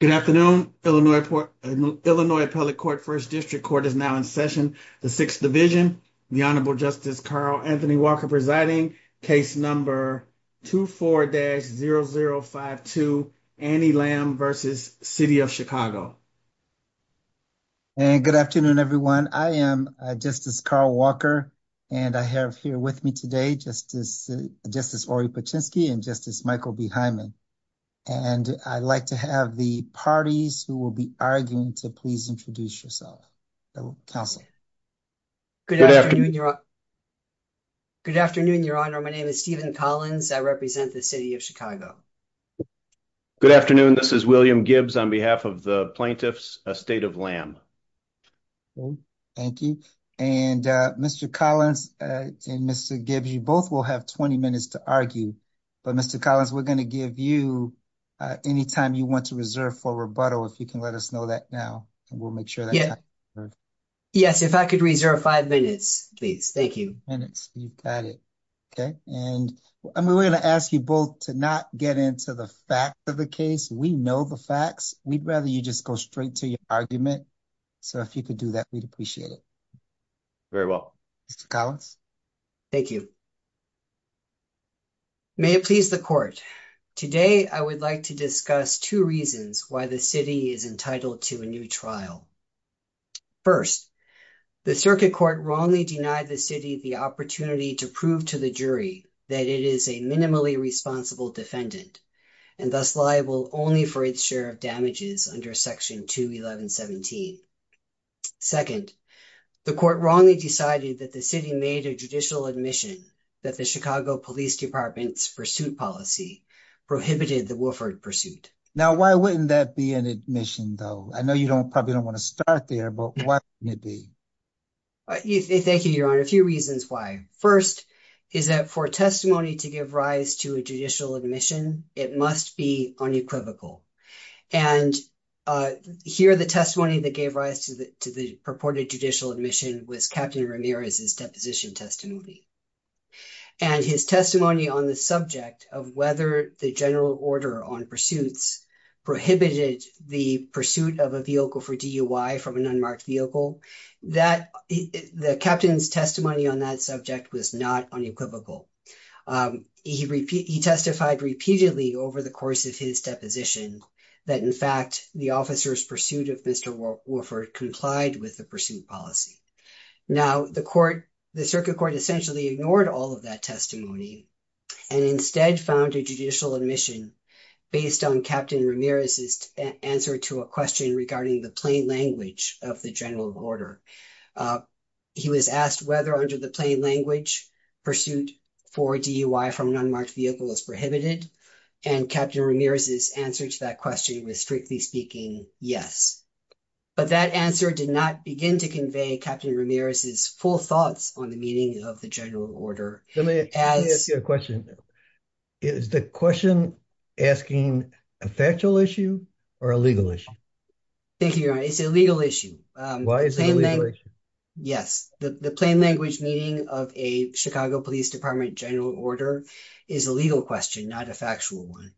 Good afternoon, Illinois, Illinois Appellate Court 1st District Court is now in session. The 6th division, the Honorable Justice Carl Anthony Walker presiding case number. 24-0052 Annie Lamb versus city of Chicago. And good afternoon everyone. I am just as Carl Walker. And I have here with me today, just as just as already, but Chesky and just as Michael behind me. And I'd like to have the parties who will be arguing to please introduce yourself. Council good afternoon. Good afternoon. Your honor. My name is Stephen Collins. I represent the city of Chicago. Good afternoon. This is William Gibbs on behalf of the plaintiffs, a state of lamb. Thank you and Mr. Collins and Mr. Gibbs, you both will have 20 minutes to argue. But Mr. Collins, we're going to give you anytime you want to reserve for rebuttal. If you can let us know that now, and we'll make sure that. Yes, if I could reserve 5 minutes, please. Thank you. And it's you've got it. Okay, and I'm going to ask you both to not get into the fact of the case. We know the facts. We'd rather you just go straight to your argument. So, if you could do that, we'd appreciate it very well. Thank you. May it please the court today. I would like to discuss 2 reasons why the city is entitled to a new trial. 1st, the circuit court wrongly denied the city the opportunity to prove to the jury that it is a minimally responsible defendant. And that's liable only for its share of damages under section to 1117. 2nd, the court wrongly decided that the city made a judicial admission that the Chicago Police Department's pursuit policy prohibited the Wilford pursuit. Now, why wouldn't that be an admission though? I know you don't probably don't want to start there, but why wouldn't it be? Thank you, your honor. A few reasons why. 1st, is that for testimony to give rise to a judicial admission, it must be unequivocal. And here, the testimony that gave rise to the purported judicial admission was Captain Ramirez's deposition testimony. And his testimony on the subject of whether the general order on pursuits prohibited the pursuit of a vehicle for DUI from an unmarked vehicle, the captain's testimony on that subject was not unequivocal. He testified repeatedly over the course of his deposition that, in fact, the officer's pursuit of Mr. Wilford complied with the pursuit policy. Now, the circuit court essentially ignored all of that testimony and instead found a judicial admission based on Captain Ramirez's answer to a question regarding the plain language of the general order. He was asked whether under the plain language pursuit for DUI from an unmarked vehicle is prohibited and Captain Ramirez's answer to that question was, strictly speaking, yes, but that answer did not begin to convey Captain Ramirez's full thoughts on the meaning of the general order. Let me ask you a question. Is the question asking a factual issue or a legal issue? Thank you, Your Honor. It's a legal issue. Why is it a legal issue? Yes, the plain language meaning of a Chicago Police Department general order is a legal question, not a factual one.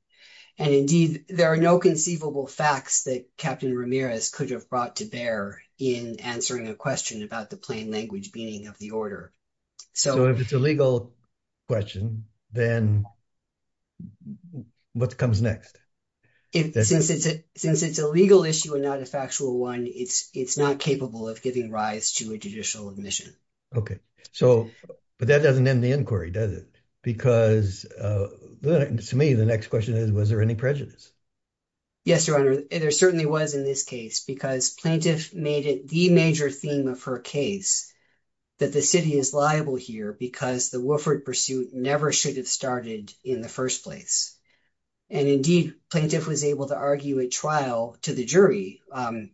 And indeed, there are no conceivable facts that Captain Ramirez could have brought to bear in answering a question about the plain language meaning of the order. So, if it's a legal question, then what comes next? Since it's a legal issue and not a factual one, it's not capable of giving rise to a judicial admission. Okay. So, but that doesn't end the inquiry, does it? Because to me, the next question is, was there any prejudice? Yes, Your Honor. There certainly was in this case because plaintiff made it the major theme of her case that the city is liable here because the Wilford pursuit never should have started in the first place. And indeed, plaintiff was able to argue at trial to the jury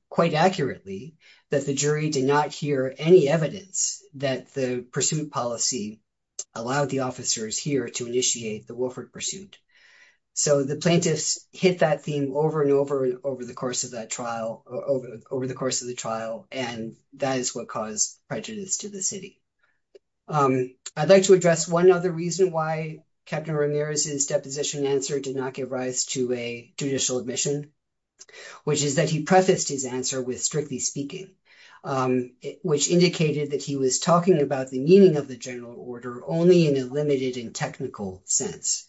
quite accurately that the jury did not hear any evidence that the pursuit policy allowed the officers here to initiate the Wilford pursuit. So, the plaintiffs hit that theme over and over and over the course of the trial, and that is what caused prejudice to the city. I'd like to address one other reason why Captain Ramirez's deposition answer did not give rise to a judicial admission, which is that he prefaced his answer with strictly speaking, which indicated that he was talking about the meaning of the general order only in a limited and technical sense.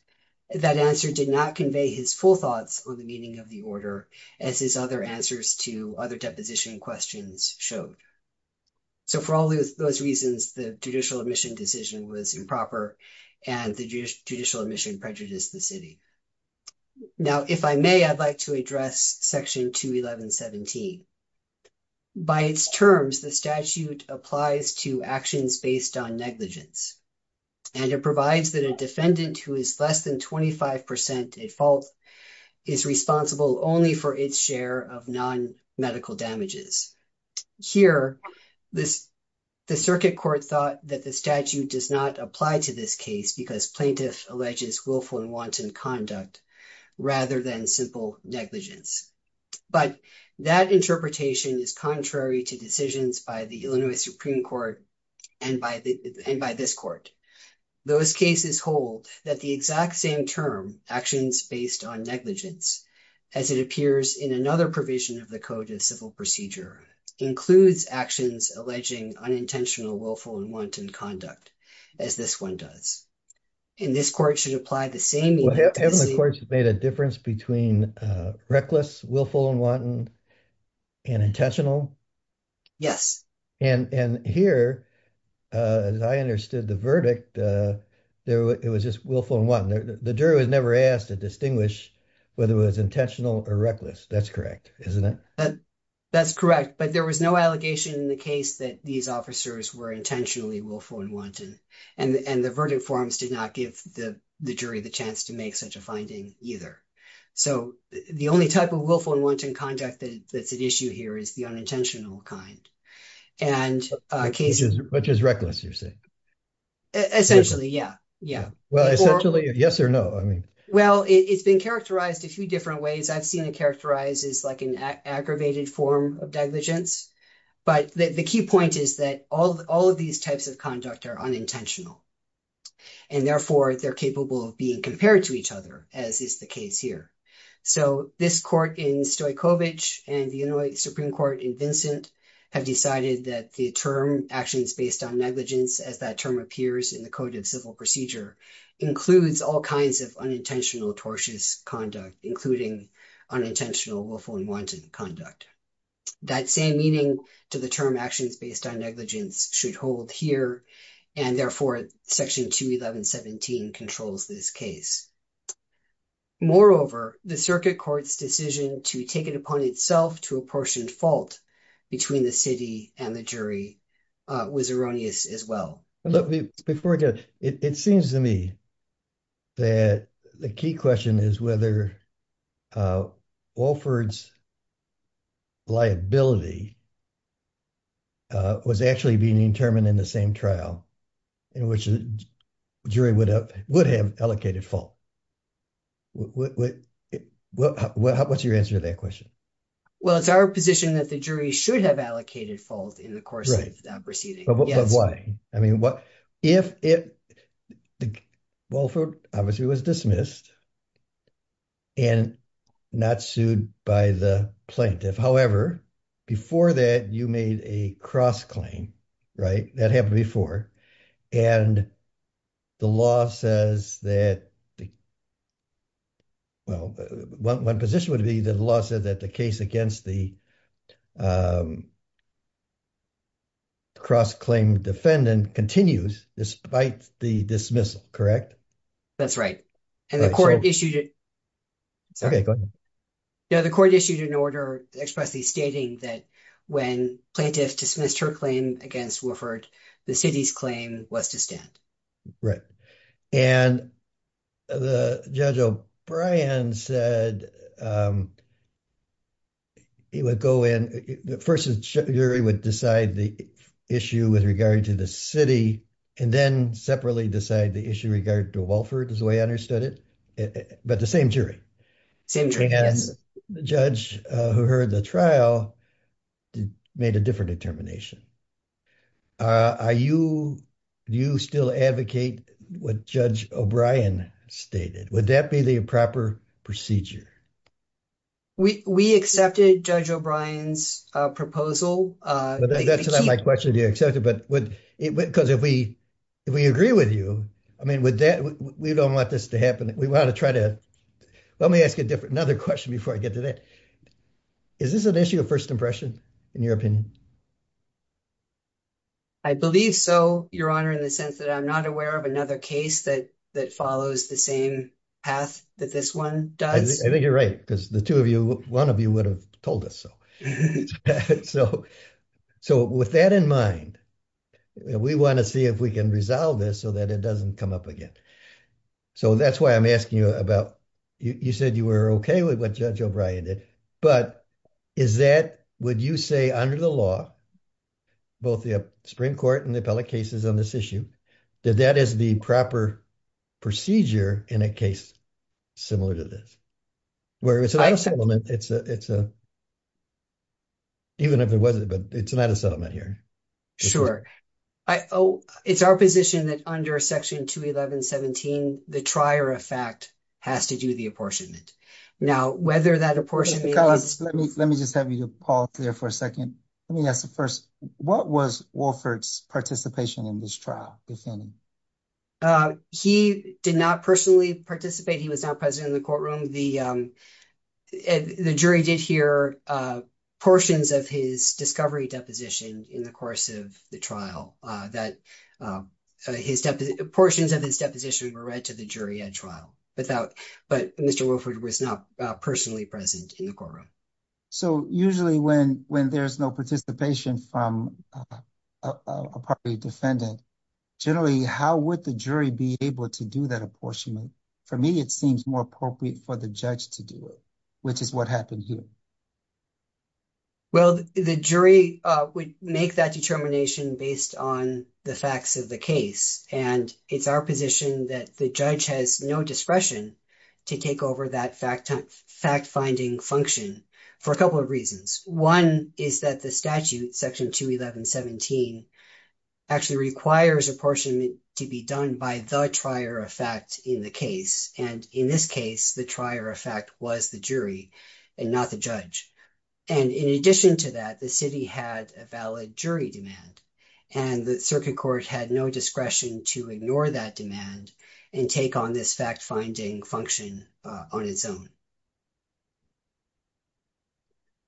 That answer did not convey his full thoughts on the meaning of the order, as his other answers to other deposition questions showed. So, for all those reasons, the judicial admission decision was improper and the judicial admission prejudiced the city. Now, if I may, I'd like to address Section 211.17. By its terms, the statute applies to actions based on negligence, and it provides that a defendant who is less than 25% at fault is responsible only for its share of non-medical damages. Here, the circuit court thought that the statute does not apply to this case because plaintiff alleges willful and wanton conduct rather than simple negligence. But that interpretation is contrary to decisions by the Illinois Supreme Court and by this court. Those cases hold that the exact same term, actions based on negligence, as it appears in another provision of the Code of Civil Procedure, includes actions alleging unintentional willful and wanton conduct, as this one does. And this court should apply the same... Well, haven't the courts made a difference between reckless, willful, and wanton and intentional? Yes. And here, as I understood the verdict, it was just willful and wanton. The jury was never asked to distinguish whether it was intentional or reckless. That's correct, isn't it? That's correct. But there was no allegation in the case that these officers were intentionally willful and wanton, and the verdict forms did not give the jury the chance to make such a finding either. So the only type of willful and wanton conduct that's at issue here is the unintentional kind. And cases... Which is reckless, you're saying? Essentially, yeah. Yeah. Well, essentially, yes or no? I mean... Well, it's been characterized a few different ways. I've seen it characterized as like an aggravated form of diligence. But the key point is that all of these types of conduct are unintentional. And therefore, they're capable of being compared to each other, as is the case here. So this court in Stojkovic and the Inuit Supreme Court in Vincent have decided that the term actions based on negligence, as that term appears in the Code of Civil Procedure, includes all kinds of unintentional tortious conduct, including unintentional willful and wanton conduct. That same meaning to the term actions based on negligence should hold here. And therefore, Section 211.17 controls this case. Moreover, the circuit court's decision to take it upon itself to apportion fault between the city and the jury was erroneous as well. Before I go, it seems to me that the key question is whether Walford's liability was actually being determined in the same trial in which the jury would have allocated fault. What's your answer to that question? Well, it's our position that the jury should have allocated fault in the course of that proceeding. But why? I mean, if Walford obviously was dismissed and not sued by the plaintiff. However, before that, you made a cross-claim, right? That happened before, and the law says that, well, one position would be that the law says that the case against the cross-claim defendant continues despite the dismissal, correct? That's right. And the court issued it. Okay, go ahead. Now, the court issued an order expressly stating that when plaintiff dismissed her claim against Walford, the city's claim was to stand. And Judge O'Brien said he would go in, first the jury would decide the issue with regard to the city, and then separately decide the issue with regard to Walford is the way I understood it. But the same jury. Same jury, yes. And the judge who heard the trial made a different determination. Do you still advocate what Judge O'Brien stated? Would that be the proper procedure? We accepted Judge O'Brien's proposal. That's not my question, do you accept it? Because if we agree with you, I mean, we don't want this to happen. We want to try to, let me ask another question before I get to that. Is this an issue of first impression, in your opinion? I believe so, Your Honor, in the sense that I'm not aware of another case that follows the same path that this one does. I think you're right, because the two of you, one of you would have told us so. So with that in mind, we want to see if we can resolve this so that it doesn't come up again. So that's why I'm asking you about, you said you were okay with what Judge O'Brien did. But is that, would you say under the law, both the Supreme Court and the appellate cases on this issue, that that is the proper procedure in a case similar to this? Where it's not a settlement, it's a, even if it wasn't, but it's not a settlement here. Sure, it's our position that under Section 211.17, the trier of fact has to do the apportionment. Now, whether that apportionment is- Let me just have you, Paul, clear for a second. Let me ask the first, what was Wolford's participation in this trial, defending? He did not personally participate. He was not present in the courtroom. The jury did hear portions of his discovery deposition in the course of the trial, that portions of his deposition were read to the jury at trial without, but Mr. Wolford was not personally present in the courtroom. So usually when there's no participation from a property defendant, generally, how would the jury be able to do that apportionment? For me, it seems more appropriate for the judge to do it, which is what happened here. Well, the jury would make that determination based on the facts of the case. And it's our position that the judge has no discretion to take over that fact-finding function for a couple of reasons. One is that the statute, Section 211.17, actually requires apportionment to be done by the trier of fact in the case. And in this case, the trier of fact was the jury and not the judge. And in addition to that, the city had a valid jury demand, and the circuit court had no discretion to ignore that demand and take on this fact-finding function on its own.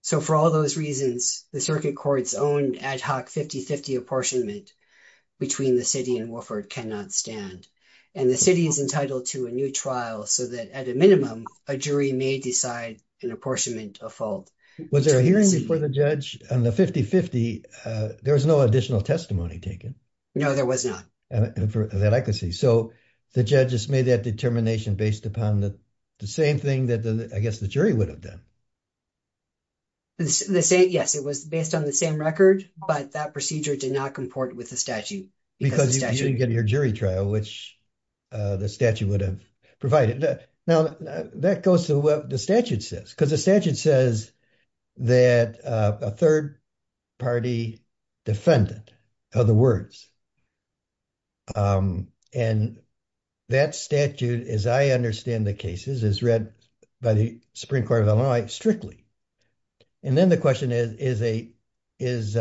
So for all those reasons, the circuit court's own ad hoc 50-50 apportionment between the city and Wolford cannot stand. And the city is entitled to a new trial so that at a minimum, a jury may decide an apportionment of fault. Was there a hearing before the judge on the 50-50? There was no additional testimony taken. No, there was not. And for that, I could see. So the judges made that determination based upon the same thing I guess the jury would have done. Yes, it was based on the same record, but that procedure did not comport with the statute. Because you didn't get your jury trial, which the statute would have provided. Now, that goes to what the statute says, because the statute says that a third-party defendant, in other words. And that statute, as I understand the cases, is read by the Supreme Court of Illinois strictly. And then the question is, is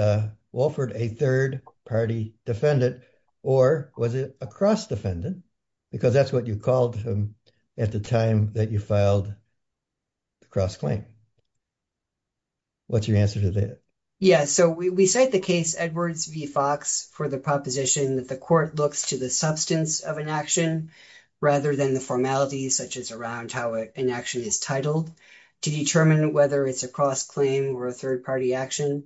Wolford a third-party defendant or was it a cross-defendant? Because that's what you called him at the time that you filed the cross-claim. What's your answer to that? Yeah, so we cite the case Edwards v. Fox for the public. The court looks to the substance of an action rather than the formalities such as around how an action is titled to determine whether it's a cross-claim or a third-party action.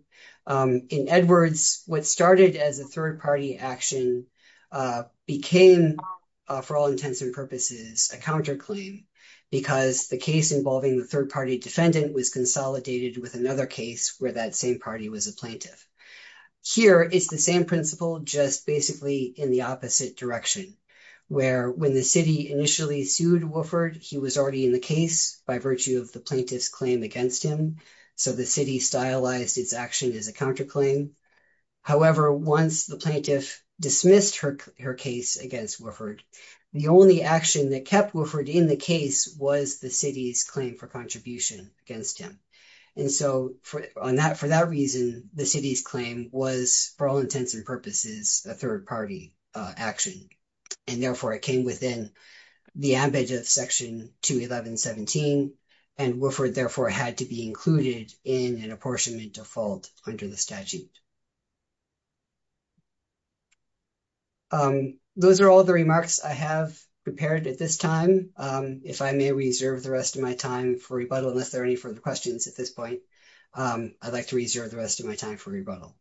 In Edwards, what started as a third-party action became, for all intents and purposes, a counterclaim. Because the case involving the third-party defendant was consolidated with another case where that same party was a plaintiff. Here, it's the same principle, just basically in the opposite direction, where when the city initially sued Wolford, he was already in the case by virtue of the plaintiff's claim against him. So the city stylized its action as a counterclaim. However, once the plaintiff dismissed her case against Wolford, the only action that kept Wolford in the case was the city's claim for contribution against him. And so, for that reason, the city's claim was, for all intents and purposes, a third-party action. And therefore, it came within the ambit of Section 211.17. And Wolford, therefore, had to be included in an apportionment default under the statute. Those are all the remarks I have prepared at this time. If I may reserve the rest of my time for rebuttal, unless there are any further questions at this point, I'd like to reserve the rest of my time for rebuttal.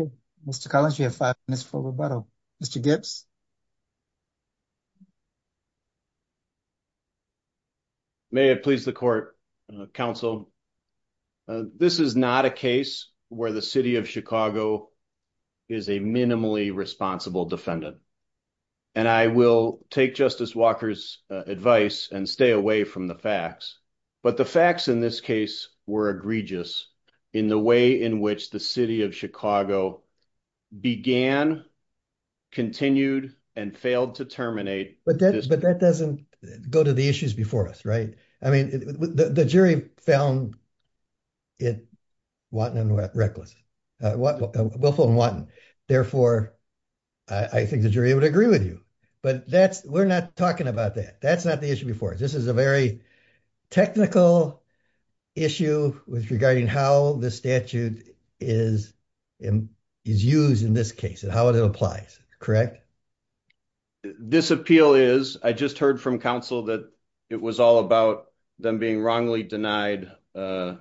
Okay, Mr. Collins, you have five minutes for rebuttal. Mr. Gibbs? May it please the court, counsel. This is not a case where the city of Chicago is a minimally responsible defendant. And I will take Justice Walker's advice and stay away from the facts, but the facts in this case were egregious in the way in which the city of Chicago began, continued, and failed to terminate this case. But that doesn't go to the issues before us, right? I mean, the jury found Wilford and Watten reckless. Therefore, I think the jury would agree with you. But we're not talking about that. That's not the issue before us. This is a very technical issue with regarding how the statute is used in this case and how it applies, correct? This appeal is, I just heard from counsel that it was all about them being wrongly denied a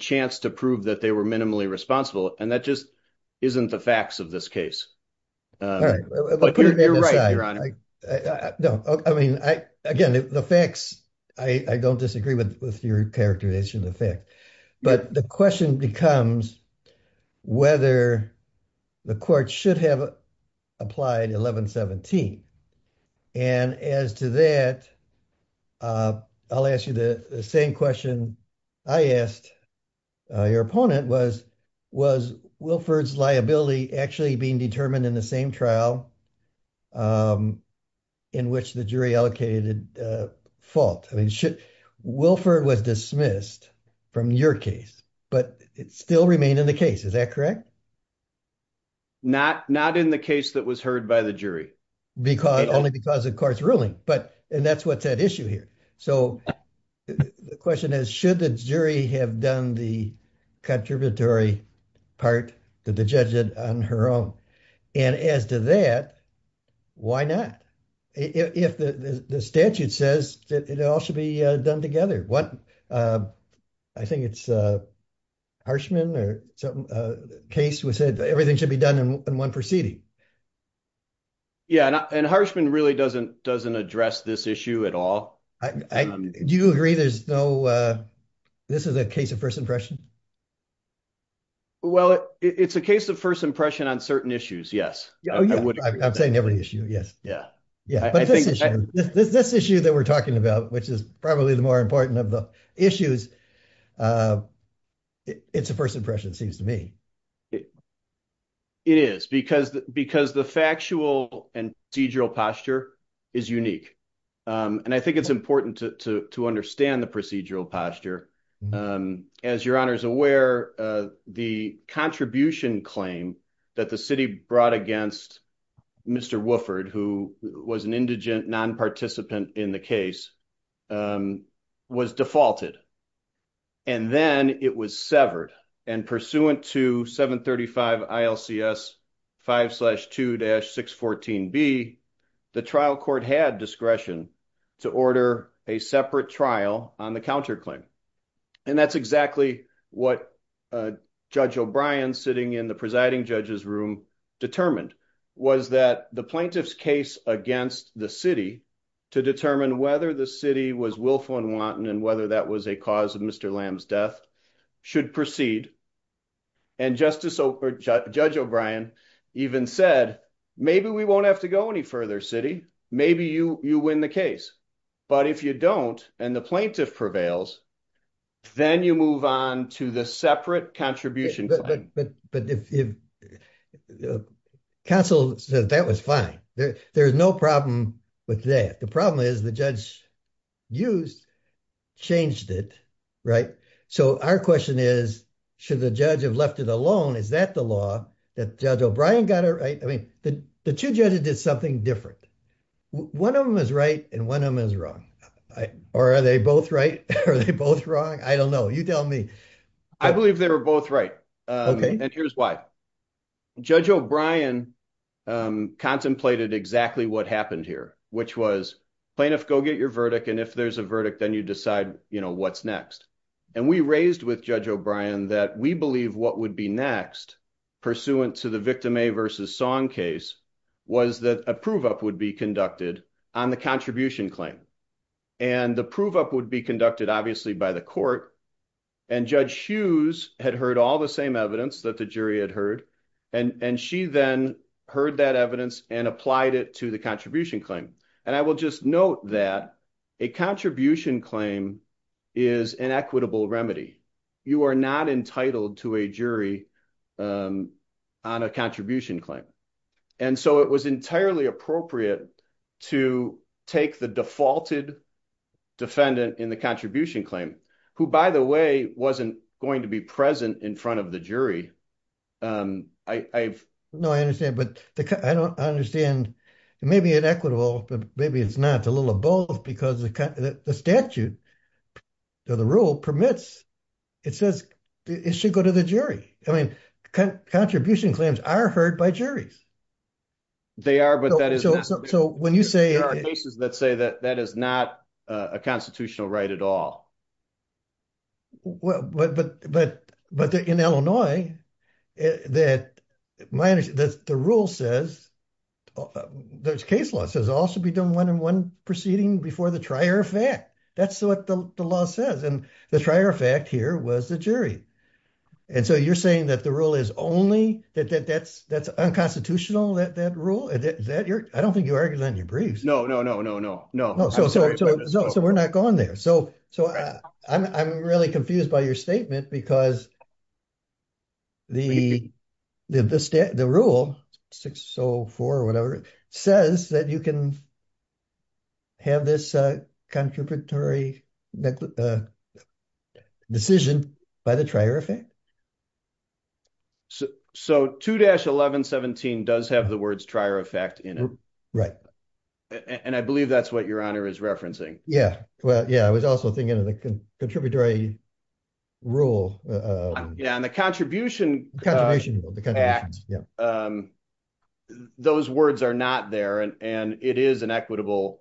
chance to prove that they were minimally responsible. And that just isn't the facts of this case. All right, but you're right, Your Honor. No, I mean, again, the facts, I don't disagree with your characterization of the fact. But the question becomes whether the court should have applied 1117. And as to that, I'll ask you the same question I asked your opponent was, was Wilford's liability actually being determined in the same trial? In which the jury allocated fault? I mean, Wilford was dismissed from your case, but it still remained in the case, is that correct? Not in the case that was heard by the jury. Only because of court's ruling. But, and that's what's at issue here. So the question is, should the jury have done the contributory part that the judge did on her own? And as to that, why not? If the statute says that it all should be done together, what, I think it's Harshman or something, a case which said everything should be done in one proceeding. Yeah, and Harshman really doesn't address this issue at all. Do you agree there's no, this is a case of first impression? Well, it's a case of first impression on certain issues, yes. Oh yeah, I'm saying every issue, yes. Yeah. Yeah, but this issue that we're talking about, which is probably the more important of the issues, it's a first impression, it seems to me. It is, because the factual and procedural posture is unique. And I think it's important to understand the procedural posture. And as your honor's aware, the contribution claim that the city brought against Mr. Wooford, who was an indigent non-participant in the case, was defaulted, and then it was severed. And pursuant to 735 ILCS 5-2-614B, the trial court had discretion to order a separate trial on the counterclaim. And that's exactly what Judge O'Brien, sitting in the presiding judge's room, determined, was that the plaintiff's case against the city to determine whether the city was willful and wanton and whether that was a cause of Mr. Lamb's death should proceed. And Judge O'Brien even said, maybe we won't have to go any further, city. Maybe you win the case. But if you don't, and the plaintiff prevails, then you move on to the separate contribution claim. But counsel said that was fine. There's no problem with that. The problem is the judge used, changed it, right? So our question is, should the judge have left it alone? Is that the law that Judge O'Brien got it right? I mean, the two judges did something different. One of them is right and one of them is wrong. Or are they both right? Are they both wrong? I don't know. You tell me. I believe they were both right. And here's why. Judge O'Brien contemplated exactly what happened here, which was plaintiff, go get your verdict. And if there's a verdict, then you decide what's next. And we raised with Judge O'Brien that we believe what would be next pursuant to the victim A versus Song case was that a prove-up would be conducted on the contribution claim. And the prove-up would be conducted, obviously, by the court. And Judge Hughes had heard all the same evidence that the jury had heard. And she then heard that evidence and applied it to the contribution claim. And I will just note that a contribution claim is an equitable remedy. You are not entitled to a jury on a contribution claim. And so it was entirely appropriate to take the defaulted defendant in the contribution claim, who, by the way, wasn't going to be present in front of the jury. No, I understand. But I don't understand. It may be inequitable, but maybe it's not. A little of both because the statute or the rule permits. It says it should go to the jury. I mean, contribution claims are heard by juries. They are, but that is not. So when you say. There are cases that say that that is not a constitutional right at all. But in Illinois, the rule says, there's case law, says also be done one-on-one proceeding before the trier of fact. That's what the law says. And the trier of fact here was the jury. And so you're saying that the rule is only that's unconstitutional, that rule? I don't think you're arguing that in your briefs. No, no, no, no, no, no. So we're not going there. So I'm really confused by your statement because the rule 604 or whatever, says that you can have this contributory decision by the trier of fact. So 2-1117 does have the words trier of fact in it. Right. And I believe that's what your honor is referencing. Yeah. Well, yeah, I was also thinking of the contributory rule. Yeah. Contribution. Those words are not there and it is an equitable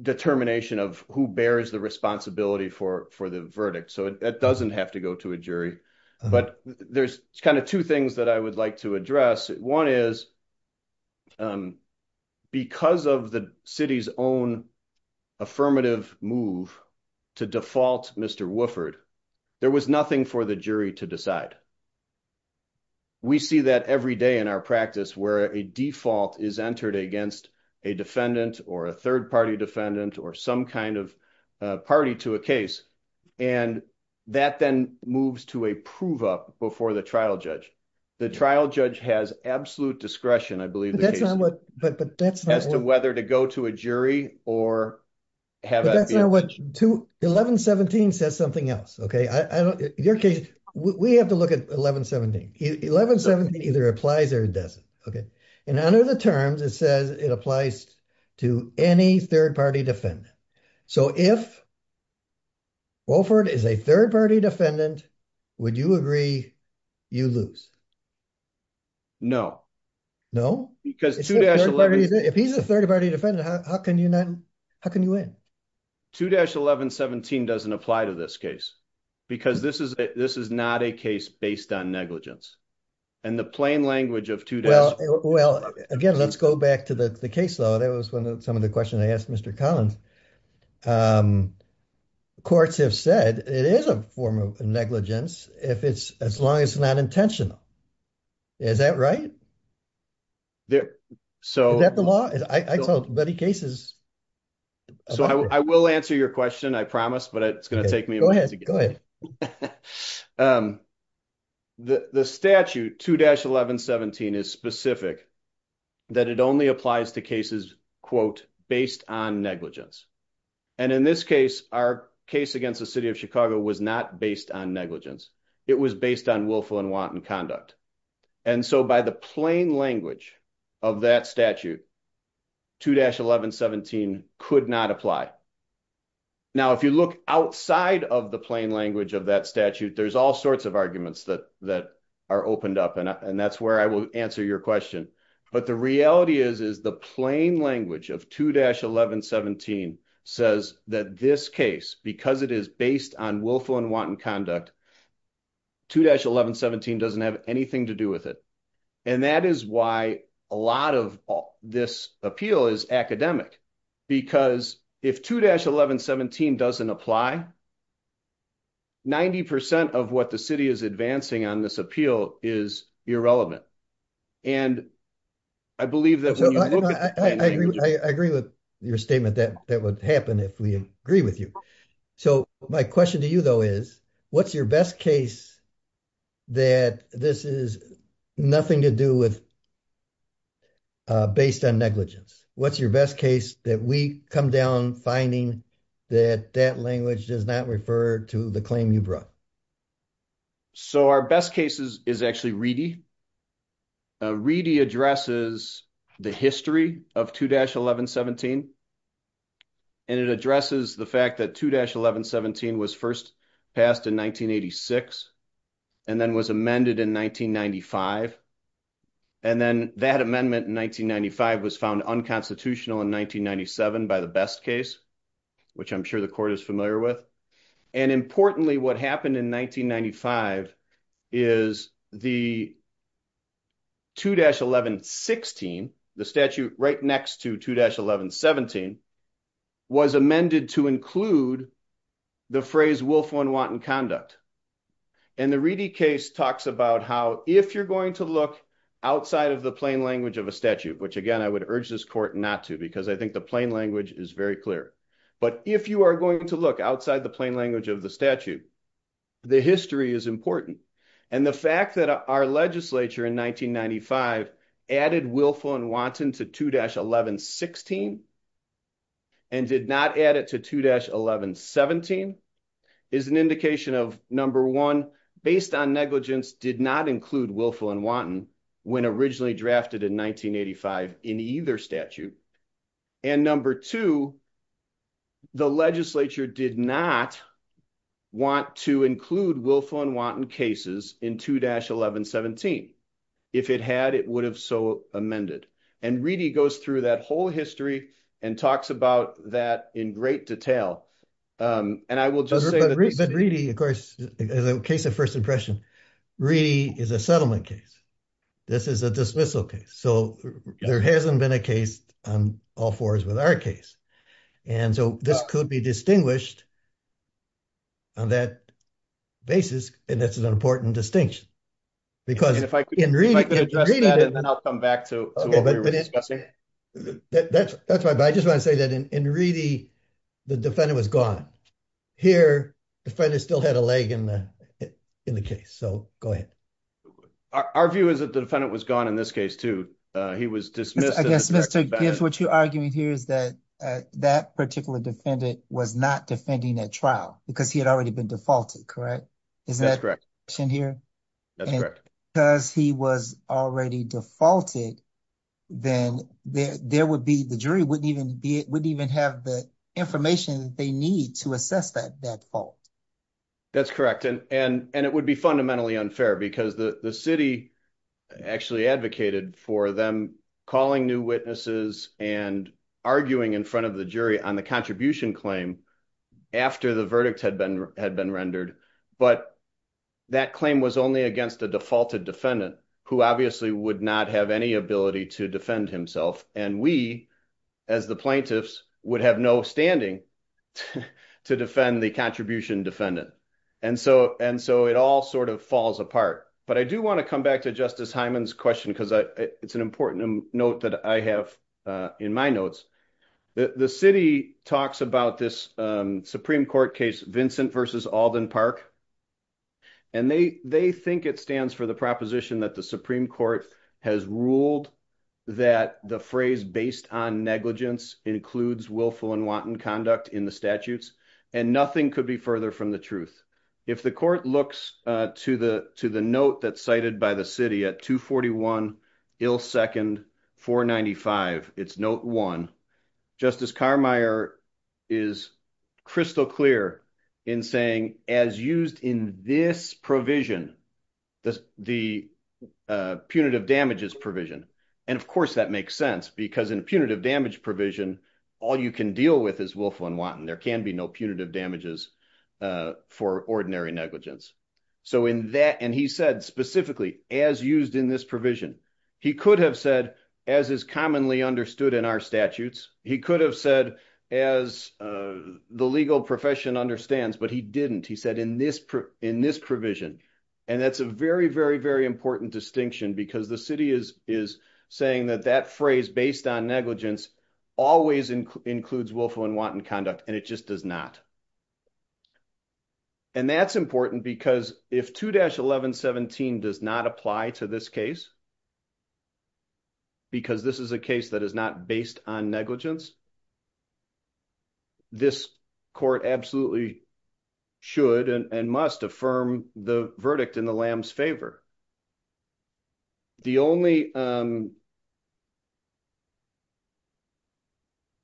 determination of who bears the responsibility for the verdict. So it doesn't have to go to a jury. But there's kind of two things that I would like to address. One is because of the city's own affirmative move to default Mr. Wooford, there was nothing for the jury to decide. We see that every day in our practice where a default is entered against a defendant or a third-party defendant or some kind of party to a case. And that then moves to a prove up before the trial judge. The trial judge has absolute discretion, I believe. But that's not what... As to whether to go to a jury or have... To 1117 says something else. Your case, we have to look at 1117. 1117 either applies or it doesn't. And under the terms, it says it applies to any third-party defendant. So if Wooford is a third-party defendant, would you agree you lose? No. No? If he's a third-party defendant, how can you not? How can you win? 2-1117 doesn't apply to this case because this is not a case based on negligence. And the plain language of 2-1117... Well, again, let's go back to the case law. That was one of some of the questions I asked Mr. Collins. Courts have said it is a form of negligence as long as it's not intentional. Is that right? So... Is that the law? I told many cases... So I will answer your question, I promise, but it's going to take me a while to get there. The statute 2-1117 is specific that it only applies to cases, quote, based on negligence. And in this case, our case against the city of Chicago was not based on negligence. It was based on willful and wanton conduct. And so by the plain language of that statute, 2-1117 could not apply. Now, if you look outside of the plain language of that statute, there's all sorts of arguments that are opened up, and that's where I will answer your question. But the reality is, is the plain language of 2-1117 says that this case, because it is based on willful and wanton conduct, 2-1117 doesn't have anything to do with it. And that is why a lot of this appeal is academic, because if 2-1117 doesn't apply, 90% of what the city is advancing on this appeal is irrelevant. And I believe that... I agree with your statement that that would happen if we agree with you. So my question to you, though, is, what's your best case that this is nothing to do with based on negligence? What's your best case that we come down finding that that language does not refer to the claim you brought? So our best case is actually Reedy. Reedy addresses the history of 2-1117. And it addresses the fact that 2-1117 was first passed in 1986 and then was amended in 1995. And then that amendment in 1995 was found unconstitutional in 1997 by the best case, which I'm sure the court is familiar with. And importantly, what happened in 1995 is the 2-1116, the statute right next to 2-1117, was amended to include the phrase, willful and wanton conduct. And the Reedy case talks about how, if you're going to look outside of the plain language of a statute, which again, I would urge this court not to, because I think the plain language is very clear. But if you are going to look outside the plain language of the statute, the history is important. And the fact that our legislature in 1995 added willful and wanton to 2-1116 and did not add it to 2-1117 is an indication of, number one, based on negligence, did not include willful and wanton when originally drafted in 1985 in either statute. And number two, the legislature did not want to include willful and wanton cases in 2-1117. If it had, it would have so amended. And Reedy goes through that whole history and talks about that in great detail. And I will just say that Reedy, of course, as a case of first impression, Reedy is a settlement case. This is a dismissal case. So there hasn't been a case on all fours with our case. And so this could be distinguished on that basis. And that's an important distinction. And if I could address that and then I'll come back to what we were discussing. Okay, that's fine. But I just want to say that in Reedy, the defendant was gone. Here, the defendant still had a leg in the case. So go ahead. Our view is that the defendant was gone in this case, too. He was dismissed. I guess, Mr. Gibbs, what you're arguing here is that that particular defendant was not defending at trial because he had already been defaulted, correct? Isn't that correct in here? That's correct. Because he was already defaulted, then there would be, the jury wouldn't even have the information that they need to assess that fault. That's correct. And it would be fundamentally unfair because the city actually advocated for them calling new witnesses and arguing in front of the jury on the contribution claim after the verdict had been rendered. But that claim was only against a defaulted defendant who obviously would not have any ability to defend himself. And we, as the plaintiffs, would have no standing to defend the contribution defendant. And so it all sort of falls apart. But I do want to come back to Justice Hyman's question because it's an important note that I have in my notes. The city talks about this Supreme Court case, Vincent v. Alden Park. And they think it stands for the proposition that the Supreme Court has ruled that the phrase based on negligence includes willful and wanton conduct in the statutes and nothing could be further from the truth. If the court looks to the note that's cited by the city at 241, ill second, 495, it's note one. Justice Carmeier is crystal clear in saying, as used in this provision, the punitive damages provision. And of course that makes sense because in a punitive damage provision, all you can deal with is willful and wanton. There can be no punitive damages for ordinary negligence. So in that, and he said specifically, as used in this provision, he could have said, as is commonly understood in our statutes, he could have said as the legal profession understands, but he didn't. He said in this provision. And that's a very, very, very important distinction because the city is saying that that phrase based on negligence always includes willful and wanton conduct. And it just does not. And that's important because if 2-1117 does not apply to this case because this is a case that is not based on negligence, this court absolutely should and must affirm the verdict in the lamb's favor. The only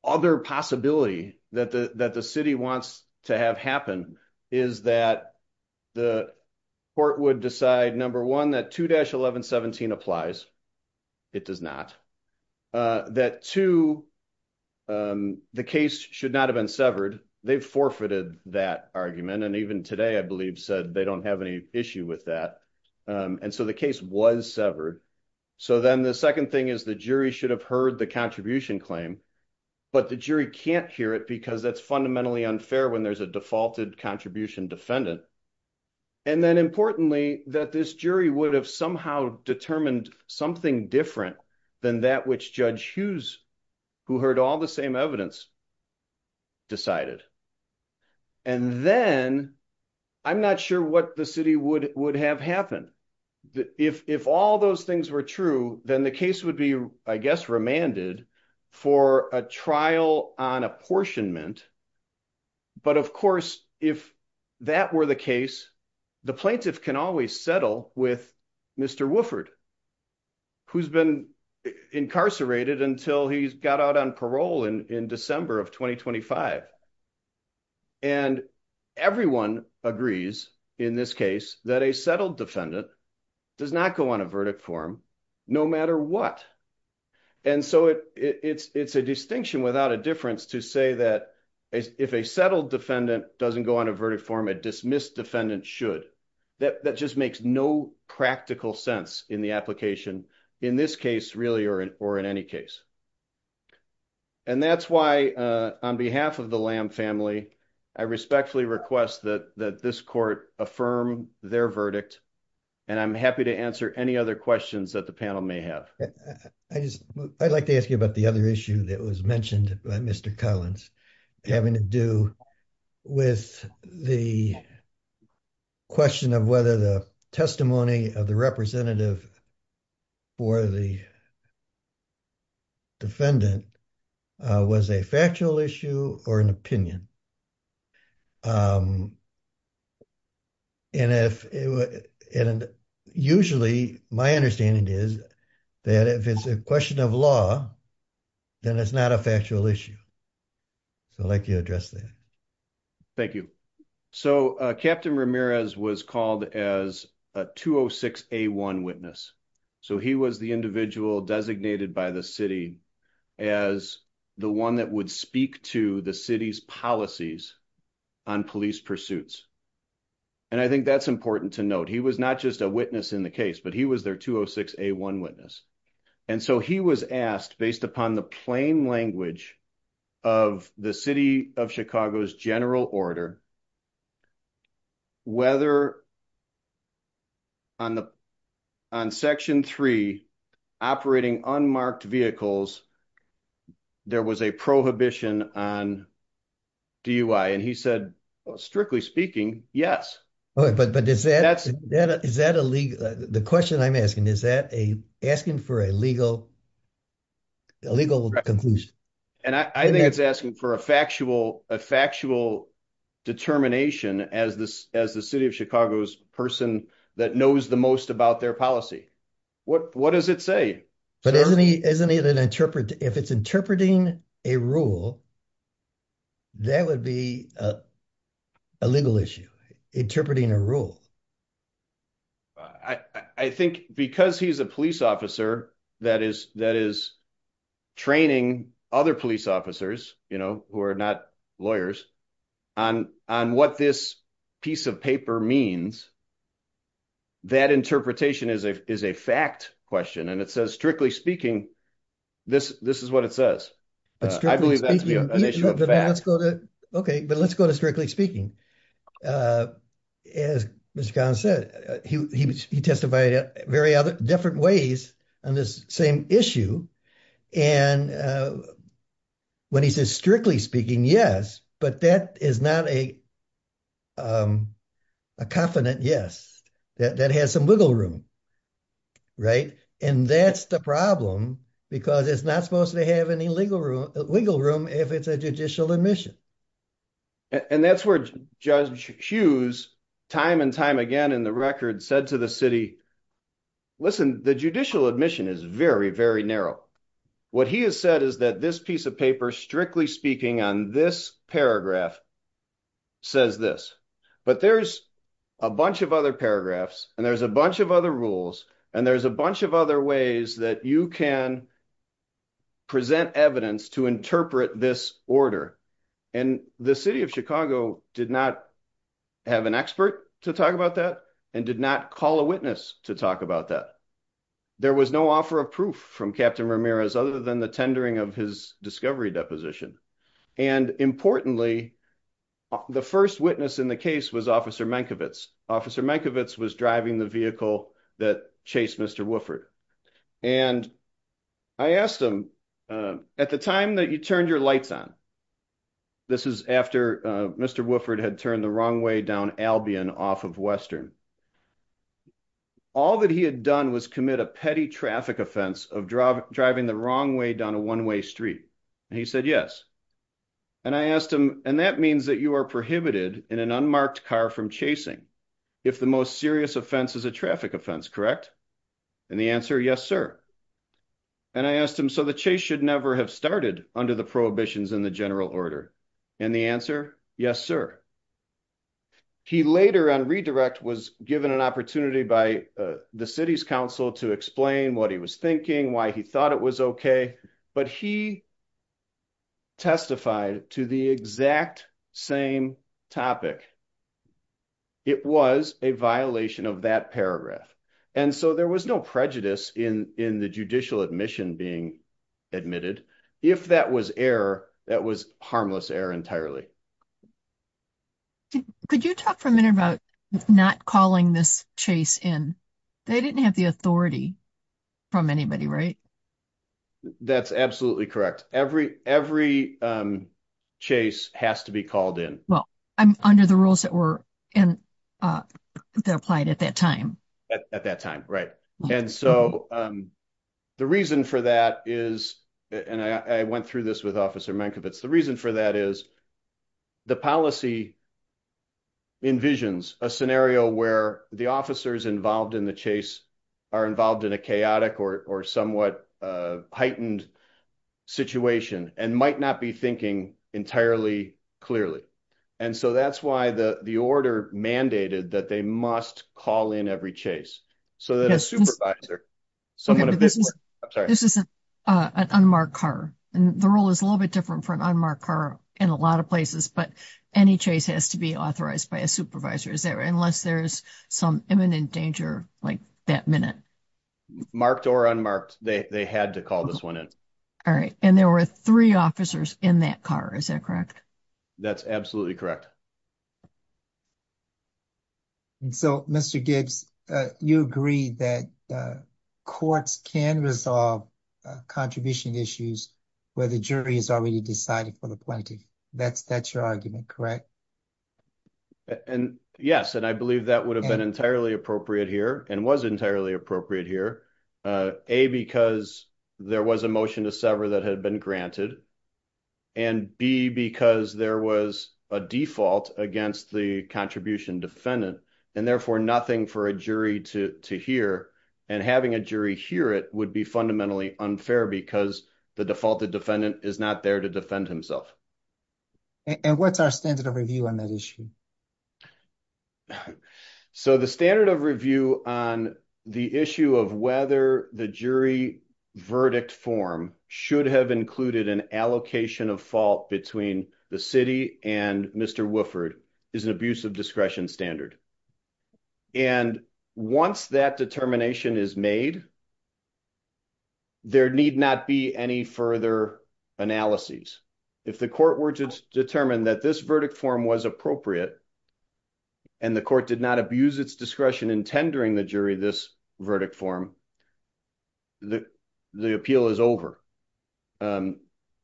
other possibility that the city wants to have happen is that the court would decide, number one, that 2-1117 applies. It does not. That two, the case should not have been severed. They've forfeited that argument. And even today, I believe said they don't have any issue with that. And so the case was severed. So then the second thing is the jury should have heard the contribution claim, but the jury can't hear it because that's fundamentally unfair when there's a defaulted contribution defendant. And then importantly, that this jury would have somehow determined something different than that which Judge Hughes, who heard all the same evidence, decided. And then I'm not sure what the city would have happen. If all those things were true, then the case would be, I guess, remanded for a trial on apportionment. But of course, if that were the case, the plaintiff can always settle with Mr. Wooford, who's been incarcerated until he got out on parole in December of 2025. And everyone agrees in this case that a settled defendant does not go on a verdict form, no matter what. And so it's a distinction without a difference to say that if a settled defendant doesn't go on a verdict form, a dismissed defendant should. That just makes no practical sense in the application in this case, really, or in any case. And that's why on behalf of the Lamb family, I respectfully request that this court affirm their verdict. And I'm happy to answer any other questions that the panel may have. I'd like to ask you about the other issue that was mentioned by Mr. Collins, having to do with the question of whether the testimony of the representative for the defendant was a factual issue or an opinion. And if it were, and usually my understanding is that if it's a question of law, then it's not a factual issue. So I'd like you to address that. Thank you. So Captain Ramirez was called as a 206A1 witness. So he was the individual designated by the city as the one that would speak to the city's policy on police pursuits. And I think that's important to note. He was not just a witness in the case, but he was their 206A1 witness. And so he was asked based upon the plain language of the city of Chicago's general order, whether on section three, operating unmarked vehicles, there was a prohibition on DUI. And he said, strictly speaking, yes. All right, but is that a legal, the question I'm asking, is that asking for a legal conclusion? And I think it's asking for a factual determination as the city of Chicago's person that knows the most about their policy. What does it say? But isn't it an interpret, if it's interpreting a rule, that would be a legal issue, interpreting a rule. I think because he's a police officer that is training other police officers, you know, who are not lawyers, on what this piece of paper means, that interpretation is a fact question. And it says, strictly speaking, this is what it says. I believe that to be an issue of fact. Let's go to, okay, but let's go to strictly speaking. As Mr. Collins said, he testified at very other different ways on this same issue. And when he says strictly speaking, yes, but that is not a confident yes, that has some wiggle room, right? And that's the problem because it's not supposed to have any wiggle room if it's a judicial admission. And that's where Judge Hughes time and time again in the record said to the city, listen, the judicial admission is very, very narrow. What he has said is that this piece of paper, strictly speaking on this paragraph says this, but there's a bunch of other paragraphs and there's a bunch of other rules and there's a bunch of other ways that you can present evidence to interpret this order. And the city of Chicago did not have an expert to talk about that and did not call a witness to talk about that. There was no offer of proof from Captain Ramirez other than the tendering of his discovery deposition. And importantly, the first witness in the case was Officer Mankiewicz. Officer Mankiewicz was driving the vehicle that chased Mr. Wooford. And I asked him, at the time that you turned your lights on, this is after Mr. Wooford had turned the wrong way down Albion off of Western. All that he had done was commit a petty traffic offense of driving the wrong way down a one-way street. And he said, yes. And I asked him, and that means that you are prohibited in an unmarked car from chasing if the most serious offense is a traffic offense, correct? And the answer, yes, sir. And I asked him, so the chase should never have started under the prohibitions in the general order. And the answer, yes, sir. He later on redirect was given an opportunity by the city's council to explain what he was thinking, why he thought it was okay. But he testified to the exact same topic. It was a violation of that paragraph. And so there was no prejudice in the judicial admission being admitted. If that was error, that was harmless error entirely. Could you talk for a minute about not calling this chase in? They didn't have the authority from anybody, right? That's absolutely correct. Every chase has to be called in. Well, under the rules that applied at that time. At that time, right. And so the reason for that is, and I went through this with Officer Mankiewicz. The reason for that is the policy envisions a scenario where the officers involved in the chase are involved in a chaotic or somewhat heightened situation and might not be thinking entirely clearly. And so that's why the order mandated that they must call in every chase. So that a supervisor. This is an unmarked car. And the rule is a little bit different for an unmarked car in a lot of places. But any chase has to be authorized by a supervisor. Is there, unless there's some imminent danger, like that minute. Marked or unmarked, they had to call this one in. All right. And there were three officers in that car. Is that correct? That's absolutely correct. And so Mr. Gibbs, you agree that courts can resolve contribution issues where the jury has already decided for the plaintiff. That's your argument, correct? And yes. And I believe that would have been entirely appropriate here and was entirely appropriate here. A, because there was a motion to sever that had been granted. And B, because there was a default against the contribution defendant. And therefore nothing for a jury to hear. And having a jury hear it would be fundamentally unfair because the defaulted defendant is not there to defend himself. And what's our standard of review on that issue? So the standard of review on the issue of whether the jury verdict form should have included an allocation of fault between the city and Mr. Wooford is an abuse of discretion standard. And once that determination is made, there need not be any further analyses. If the court were to determine that this verdict form was appropriate and the court did not abuse its discretion in tendering the jury this verdict form, the appeal is over. And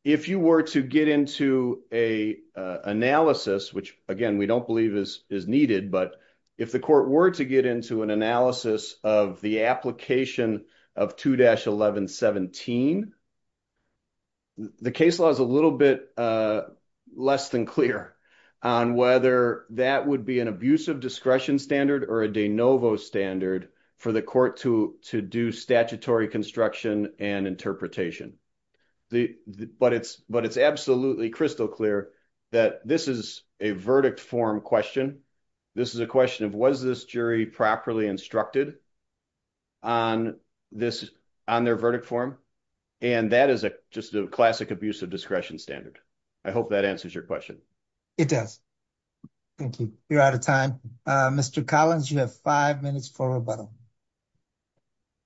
if you were to get into a analysis, which again, we don't believe is needed, but if the court were to get into an analysis of the application of 2-1117, the case law is a little bit less than clear on whether that would be an abuse of discretion standard or a de novo standard for the court to do statutory construction and interpretation. But it's absolutely crystal clear that this is a verdict form question. This is a question of, was this jury properly instructed on their verdict form? And that is just a classic abuse of discretion standard. I hope that answers your question. It does. Thank you. You're out of time. Mr. Collins, you have five minutes for rebuttal.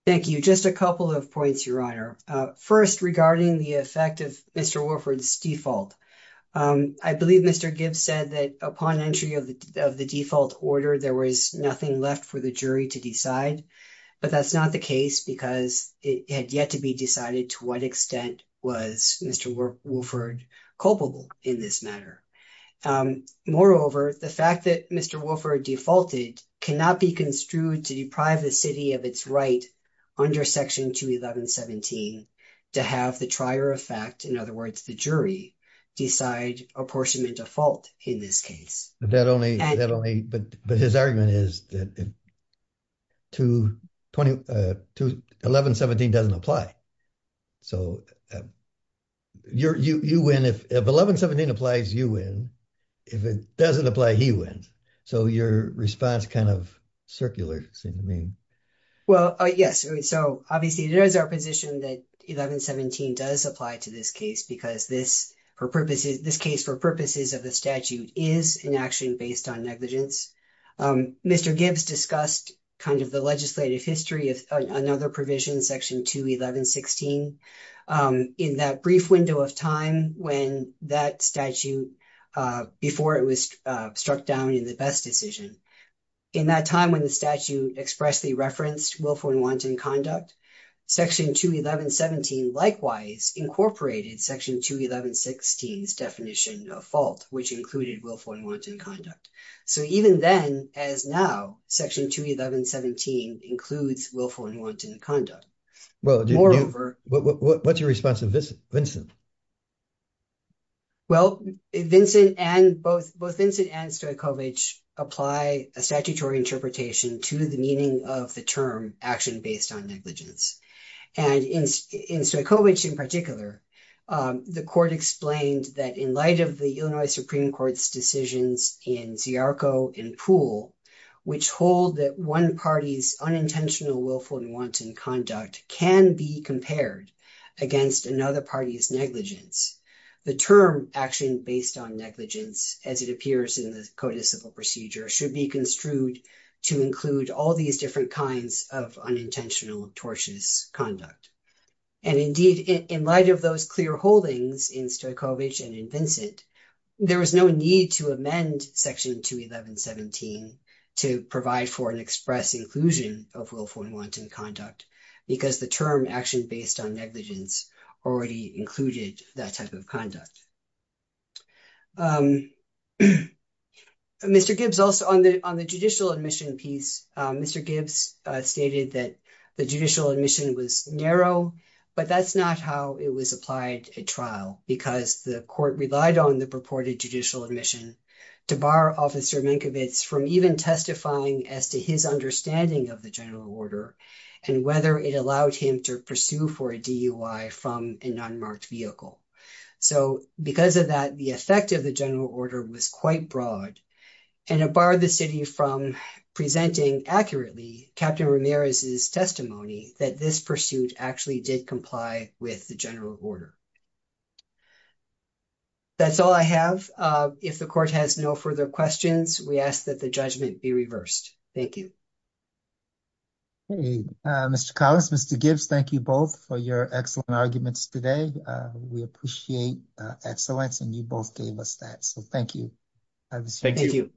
Thank you. Just a couple of points, Your Honor. First, regarding the effect of Mr. Wolford's default. I believe Mr. Gibbs said that upon entry of the default order, there was nothing left for the jury to decide, but that's not the case because it had yet to be decided to what extent was Mr. Wolford culpable in this matter. Moreover, the fact that Mr. Wolford defaulted cannot be construed to deprive the city of its right under Section 211.17 to have the trier of fact, in other words, the jury, decide apportionment of fault in this case. But his argument is that 1117 doesn't apply. So if 1117 applies, you win. If it doesn't apply, he wins. So your response kind of circular, it seems to me. Well, yes. So obviously it is our position that 1117 does apply to this case because this case for purposes of the statute is an action based on negligence. Mr. Gibbs discussed kind of the legislative history of another provision, Section 211.16, in that brief window of time when that statute before it was struck down in the best decision. In that time when the statute expressly referenced Wilford-Wanton conduct, Section 211.17 likewise incorporated Section 211.16's definition of fault, which included Wilford-Wanton conduct. So even then, as now, Section 211.17 includes Wilford-Wanton conduct. Well, what's your response to Vincent? Well, both Vincent and Stojkovic apply a statutory interpretation to the meaning of the term action based on negligence. And in Stojkovic in particular, the court explained that in light of the Illinois Supreme Court's decisions in Ziarko and Poole, which hold that one party's unintentional Wilford-Wanton conduct can be compared against another party's negligence, the term action based on negligence, as it appears in the codiciple procedure, should be construed to include all these different kinds of unintentional tortious conduct. And indeed, in light of those clear holdings in Stojkovic and in Vincent, there was no need to amend Section 211.17 to provide for an express inclusion of Wilford-Wanton conduct, because the term action based on negligence already included that type of conduct. Mr. Gibbs, also on the judicial admission piece, Mr. Gibbs stated that the judicial admission was narrow, but that's not how it was applied at trial, because the court relied on the purported judicial admission to bar Officer Minkovic from even testifying as to his understanding of the general order and whether it allowed him to pursue for a DUI from an unmarked vehicle. So because of that, the effect of the general order was quite broad, and it barred the city from presenting accurately Captain Ramirez's testimony that this pursuit actually did comply with the general order. That's all I have. If the court has no further questions, we ask that the judgment be reversed. Thank you. Hey, Mr. Collins, Mr. Gibbs, thank you both for your excellent arguments today. We appreciate excellence, and you both gave us that. So thank you. Thank you.